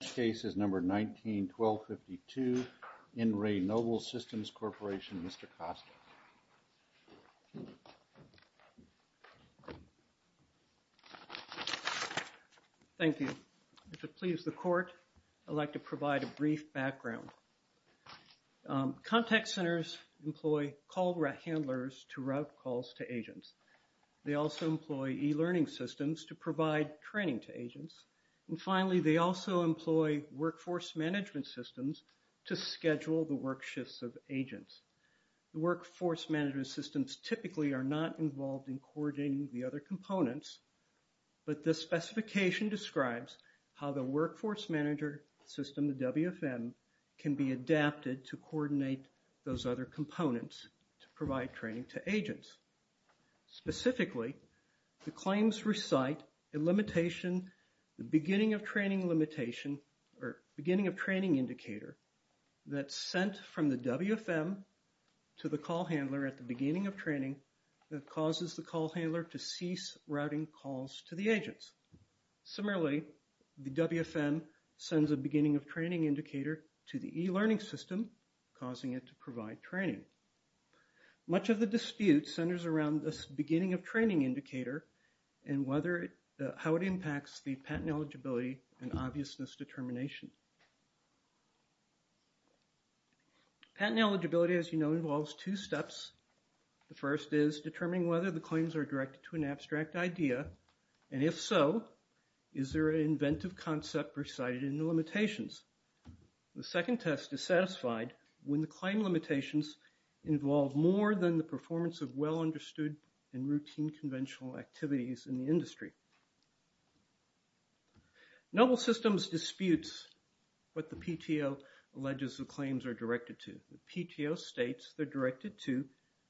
This case is number 19-1252, In Re Noble Systems Corporation, Mr. Costa. Thank you. To please the court, I'd like to provide a brief background. Contact centers employ call handlers to route calls to agents. They also employ e-learning systems to provide training to agents. And finally, they also employ workforce management systems to schedule the work shifts of agents. The workforce management systems typically are not involved in coordinating the other components, but this specification describes how the workforce manager system, the WFM, can be adapted to coordinate those other components to provide training to agents. Specifically, the claims recite a limitation, the beginning of training limitation, or beginning of training indicator that's sent from the WFM to the call handler at the beginning of training that causes the call handler to cease routing calls to the agents. Similarly, the WFM sends a beginning of training indicator to the e-learning system, causing it to provide training. Much of the dispute centers around this beginning of training indicator and how it impacts the patent eligibility and obviousness determination. Patent eligibility, as you know, involves two steps. The first is determining whether the claims are directed to an abstract idea, and if so, is there an inventive concept recited in the limitations? The second test is satisfied when the claim limitations involve more than the performance of well-understood and routine conventional activities in the industry. Noble Systems disputes what the PTO alleges the claims are directed to. The PTO states they're directed to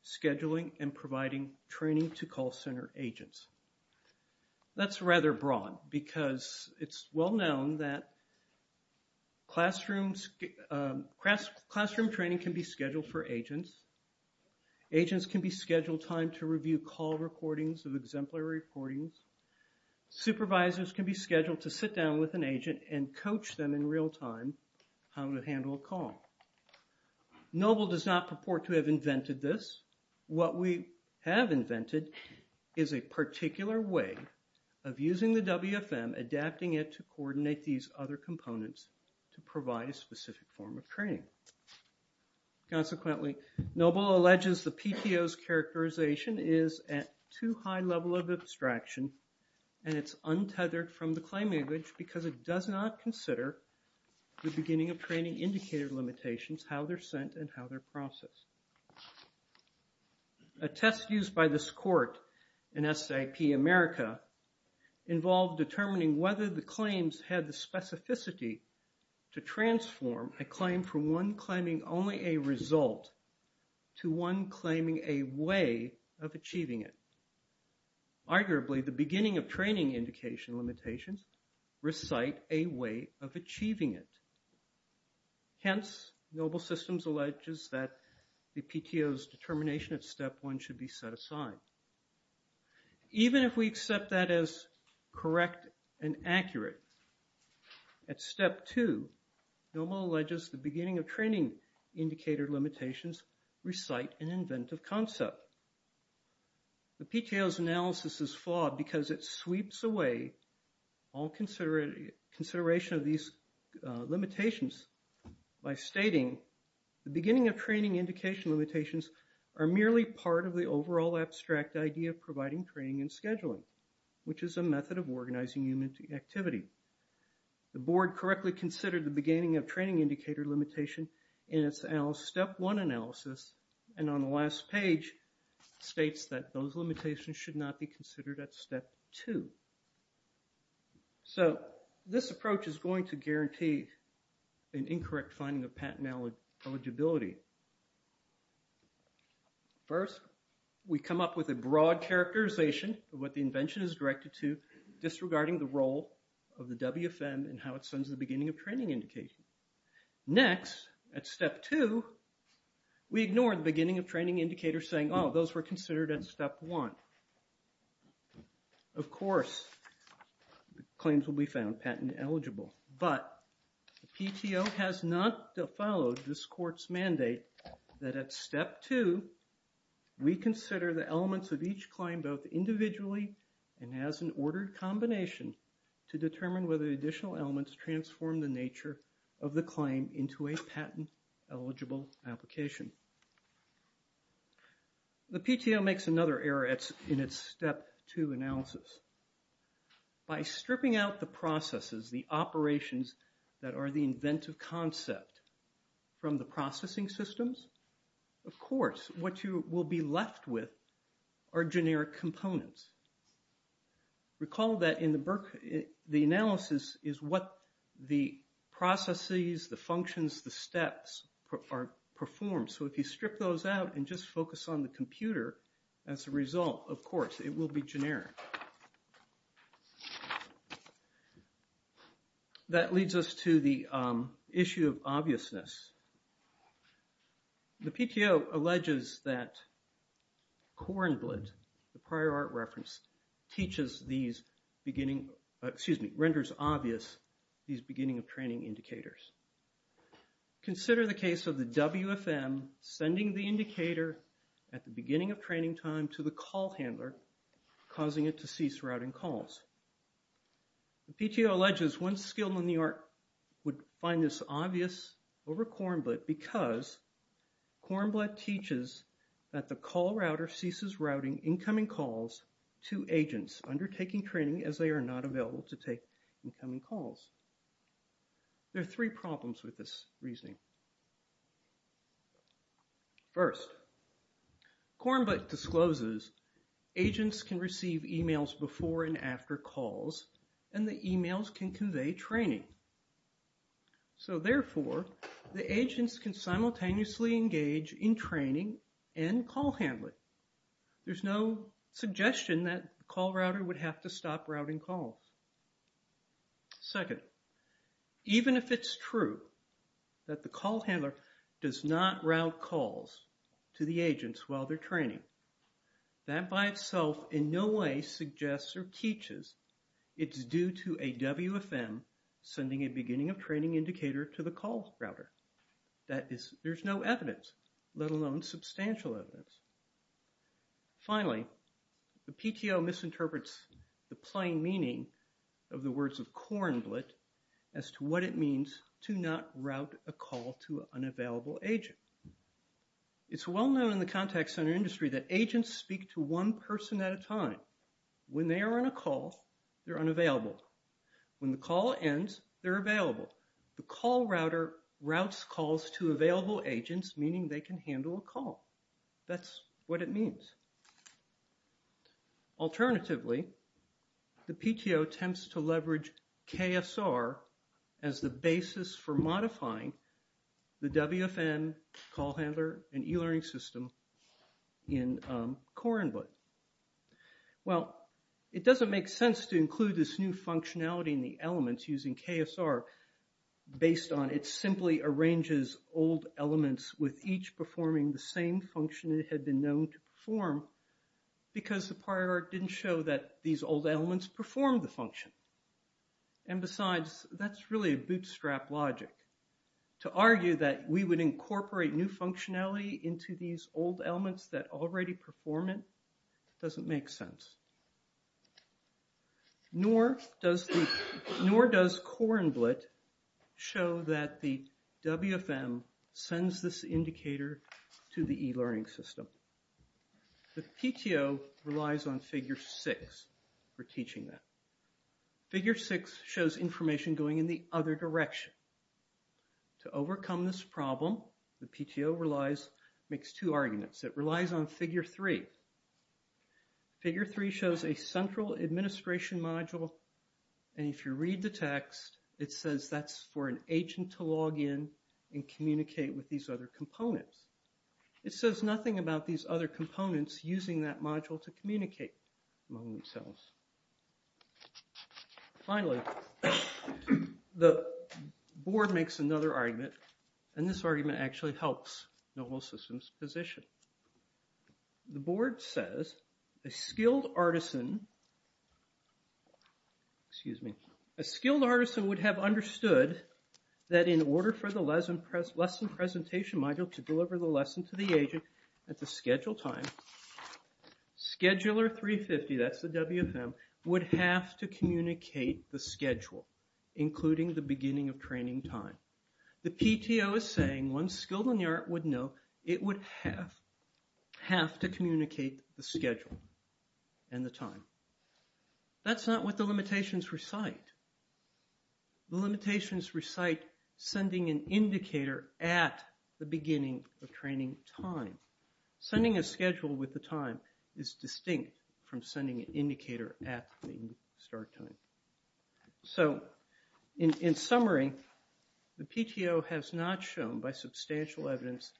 scheduling and providing training to call center agents. That's rather broad because it's well-known that classroom training can be scheduled for agents. Agents can be scheduled time to review call recordings of exemplary recordings. Supervisors can be scheduled to sit down with an agent and coach them in real time how to handle a call. Noble does not purport to have invented this. What we have invented is a particular way of using the WFM, adapting it to coordinate these other components to provide a specific form of training. Consequently, Noble alleges the PTO's characterization is at too high level of abstraction, and it's untethered from the claim image because it does not consider the beginning of training indicator limitations, how they're sent, and how they're processed. A test used by this court in SAP America involved determining whether the claims had the specificity to transform a claim from one claiming only a result to one claiming a way of achieving it. Arguably, the beginning of training indication limitations recite a way of achieving it. Hence, Noble Systems alleges that the PTO's determination at step one should be set aside. Even if we accept that as correct and accurate, at step two, Noble alleges the beginning of training indicator limitations recite an inventive concept. The PTO's analysis is flawed because it sweeps away all consideration of these limitations by stating, the beginning of training indication limitations are merely part of the overall abstract idea of providing training and scheduling, which is a method of organizing human activity. The board correctly considered the beginning of training indicator limitation in its step one analysis, and on the last page, states that those limitations should not be considered at step two. So this approach is going to guarantee an incorrect finding of patent eligibility. First, we come up with a broad characterization of what the invention is directed to, disregarding the role of the WFM and how it sends the beginning of training indication. Next, at step two, we ignore the beginning of training indicator saying, oh, those were considered at step one. Of course, claims will be found patent eligible. But the PTO has not followed this court's mandate that at step two, we consider the elements of each claim both individually and as an ordered combination to determine whether additional elements transform the nature of the claim into a patent eligible application. The PTO makes another error in its step two analysis. By stripping out the processes, the operations that are the inventive concept from the processing systems, of course, what you will be left with are generic components. Recall that in the analysis is what the processes, the functions, the steps are performed. So if you strip those out and just focus on the computer as a result, of course, it will be generic. That leads us to the issue of obviousness. The PTO alleges that Kornblit, the prior art reference, renders obvious these beginning of training indicators. Consider the case of the WFM sending the indicator at the beginning of training time to the call handler, causing it to cease routing calls. The PTO alleges one skill in the art would find this obvious over Kornblit because Kornblit teaches that the call router ceases routing incoming calls to agents undertaking training as they are not available to take incoming calls. There are three problems with this reasoning. First, Kornblit discloses agents can receive emails before and after calls, and the emails can convey training. So therefore, the agents can simultaneously engage in training and call handling. There's no suggestion that the call router would have to stop routing calls. Second, even if it's true that the call router is a call handler, does not route calls to the agents while they're training. That by itself in no way suggests or teaches it's due to a WFM sending a beginning of training indicator to the call router. That is, there's no evidence, let alone substantial evidence. Finally, the PTO misinterprets the plain meaning of the words of Kornblit as to what it means to not route a call to an unavailable agent. It's well known in the contact center industry that agents speak to one person at a time. When they are on a call, they're unavailable. When the call ends, they're available. The call router routes calls to available agents, meaning they can handle a call. That's what it means. Alternatively, the PTO attempts to leverage KSR as the basis for modifying the WFM call handler and e-learning system in Kornblit. Well, it doesn't make sense to include this new functionality in the elements using KSR based on it simply arranges old elements with each performing the same function it had been known to perform because the prior art didn't show that these old elements performed the function. And besides, that's really a bootstrap logic. To argue that we would incorporate new functionality into these old elements that already perform it doesn't make sense. Nor does Kornblit show that the WFM sends this indicator to the e-learning system. The PTO relies on figure six for teaching that. Figure six shows information going in the other direction. To overcome this problem, the PTO makes two arguments. It relies on figure three. Figure three shows a central administration module. And if you read the text, it says that's for an agent to log in and communicate with these other components. It says nothing about these other components using that module to communicate among themselves. Finally, the board makes another argument. And this argument actually helps the whole system's position. The board says a skilled artisan would have understood that in order for the lesson presentation module to deliver the lesson to the agent at the scheduled time, scheduler 350, that's the WFM, would have to communicate the schedule, including the beginning of training time. The PTO is saying one skilled in the art would know it would have to communicate the schedule and the time. That's not what the limitations recite. The limitations recite sending an indicator at the beginning of training time. Sending a schedule with the time is distinct from sending an indicator at the start time. So in summary, the PTO has not shown by substantial evidence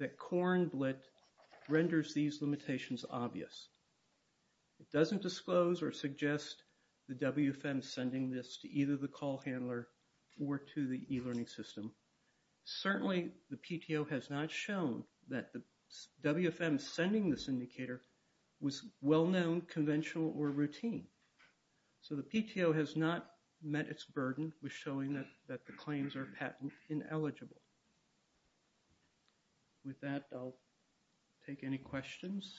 that Kornblit renders these limitations obvious. It doesn't disclose or suggest the WFM sending this to either the call handler or to the e-learning system. Certainly, the PTO has not shown that the WFM sending this indicator was well-known, conventional, or routine. So the PTO has not met its burden with showing that the claims are patent ineligible. With that, I'll take any questions.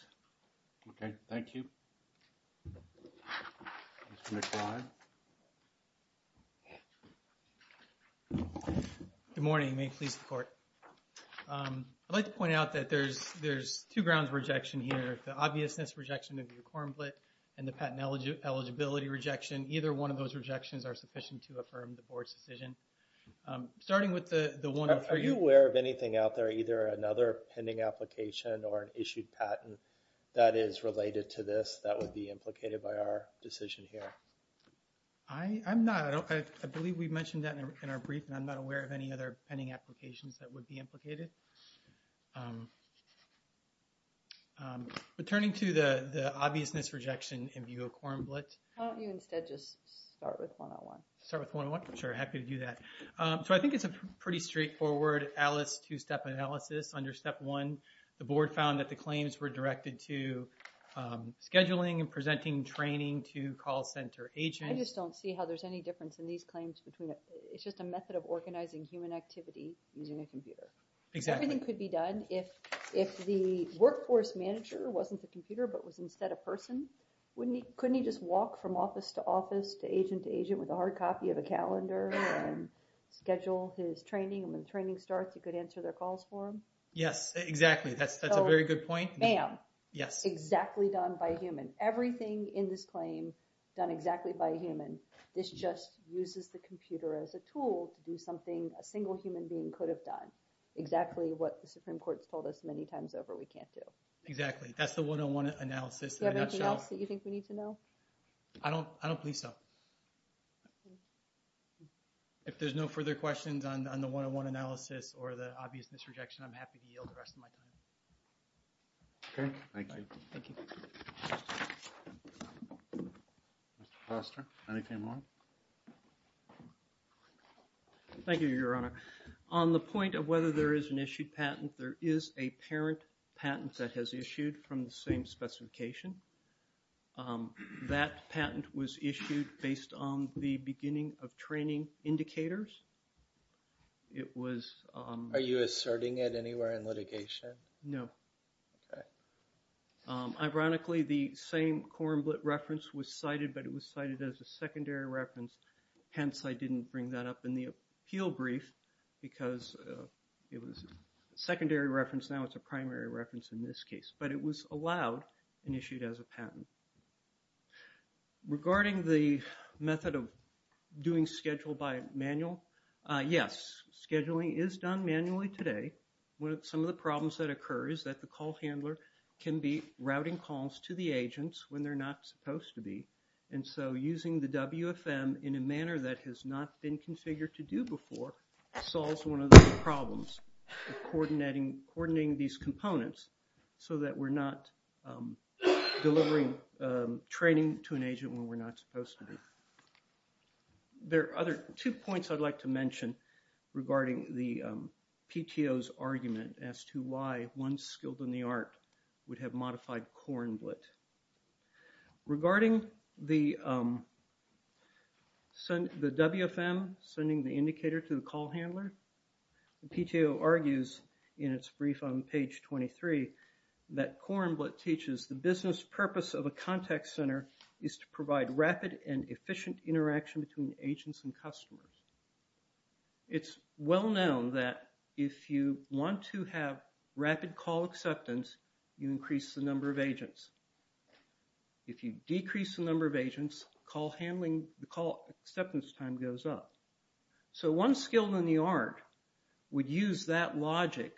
OK, thank you. Mr. McBride. Good morning. May it please the court. I'd like to point out that there's two grounds of rejection here, the obviousness rejection of your Kornblit and the patent eligibility rejection. Either one of those rejections are sufficient to affirm the board's decision. Starting with the 103. Are you aware of anything out there, either another pending application or an issued patent that is related to this that would be implicated by our decision here? I'm not. I believe we've mentioned that in our brief, and I'm not aware of any other pending applications that would be implicated. Returning to the obviousness rejection in view of Kornblit. Why don't you instead just start with 101? Start with 101? Sure, happy to do that. So I think it's a pretty straightforward Alice two-step analysis under step one. The board found that the claims were directed to scheduling and presenting training to call center agents. I just don't see how there's any difference in these claims between the two. It's a method of organizing human activity using a computer. Everything could be done. If the workforce manager wasn't the computer but was instead a person, couldn't he just walk from office to office to agent to agent with a hard copy of a calendar and schedule his training? And when the training starts, he could answer their calls for him? Yes, exactly. That's a very good point. Bam. Exactly done by a human. Everything in this claim done exactly by a human. This just uses the computer as a tool to do something a single human being could have done. Exactly what the Supreme Court's told us many times over, we can't do. Exactly. That's the 101 analysis in a nutshell. Do you have anything else that you think we need to know? I don't believe so. If there's no further questions on the 101 analysis or the obvious misrejection, I'm happy to yield the rest of my time. OK. Thank you. Thank you. Mr. Foster? Anything more? Thank you, Your Honor. On the point of whether there is an issued patent, there is a parent patent that has issued from the same specification. That patent was issued based on the beginning of training indicators. It was on- Are you asserting it anywhere in litigation? No. Ironically, the same Korenblit reference was cited, but it was cited as a secondary reference. Hence, I didn't bring that up in the appeal brief because it was a secondary reference. Now, it's a primary reference in this case. But it was allowed and issued as a patent. Regarding the method of doing schedule by manual, yes. Scheduling is done manually today. Some of the problems that occur is that the call handler can be routing calls to the agents when they're not supposed to be. And so using the WFM in a manner that has not been configured to do before solves one of the problems of coordinating these components so that we're not delivering training to an agent when we're not supposed to be. There are other two points I'd like to mention regarding the PTO's argument as to why one skilled in the art would have modified Korenblit. Regarding the WFM sending the indicator to the call handler, the PTO argues in its brief on page 23 that Korenblit teaches the business purpose of a contact center is to provide rapid and efficient interaction between agents and customers. It's well known that if you want to have rapid call acceptance, you increase the number of agents. If you decrease the number of agents, the call acceptance time goes up. So one skilled in the art would use that logic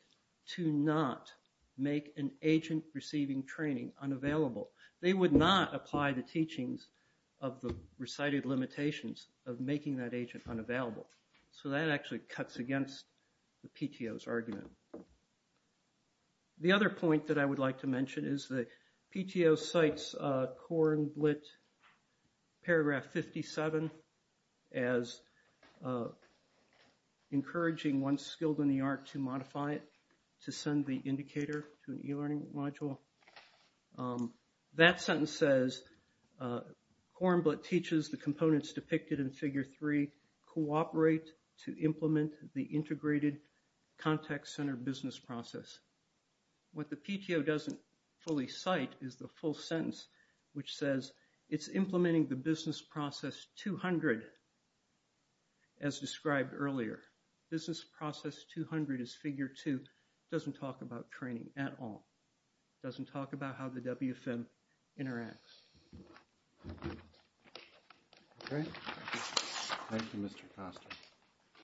to not make an agent receiving training unavailable. They would not apply the teachings of the recited limitations of making that agent unavailable. So that actually cuts against the PTO's argument. The other point that I would like to mention is that PTO cites Korenblit paragraph 57 as encouraging one skilled in the art to modify it to send the indicator to an e-learning module. So that sentence says Korenblit teaches the components depicted in figure 3 cooperate to implement the integrated contact center business process. What the PTO doesn't fully cite is the full sentence, which says it's implementing the business process 200 as described earlier. Business process 200 is figure 2. Doesn't talk about training at all. Doesn't talk about how the WFM interacts. All right. Thank you, Mr. Costa.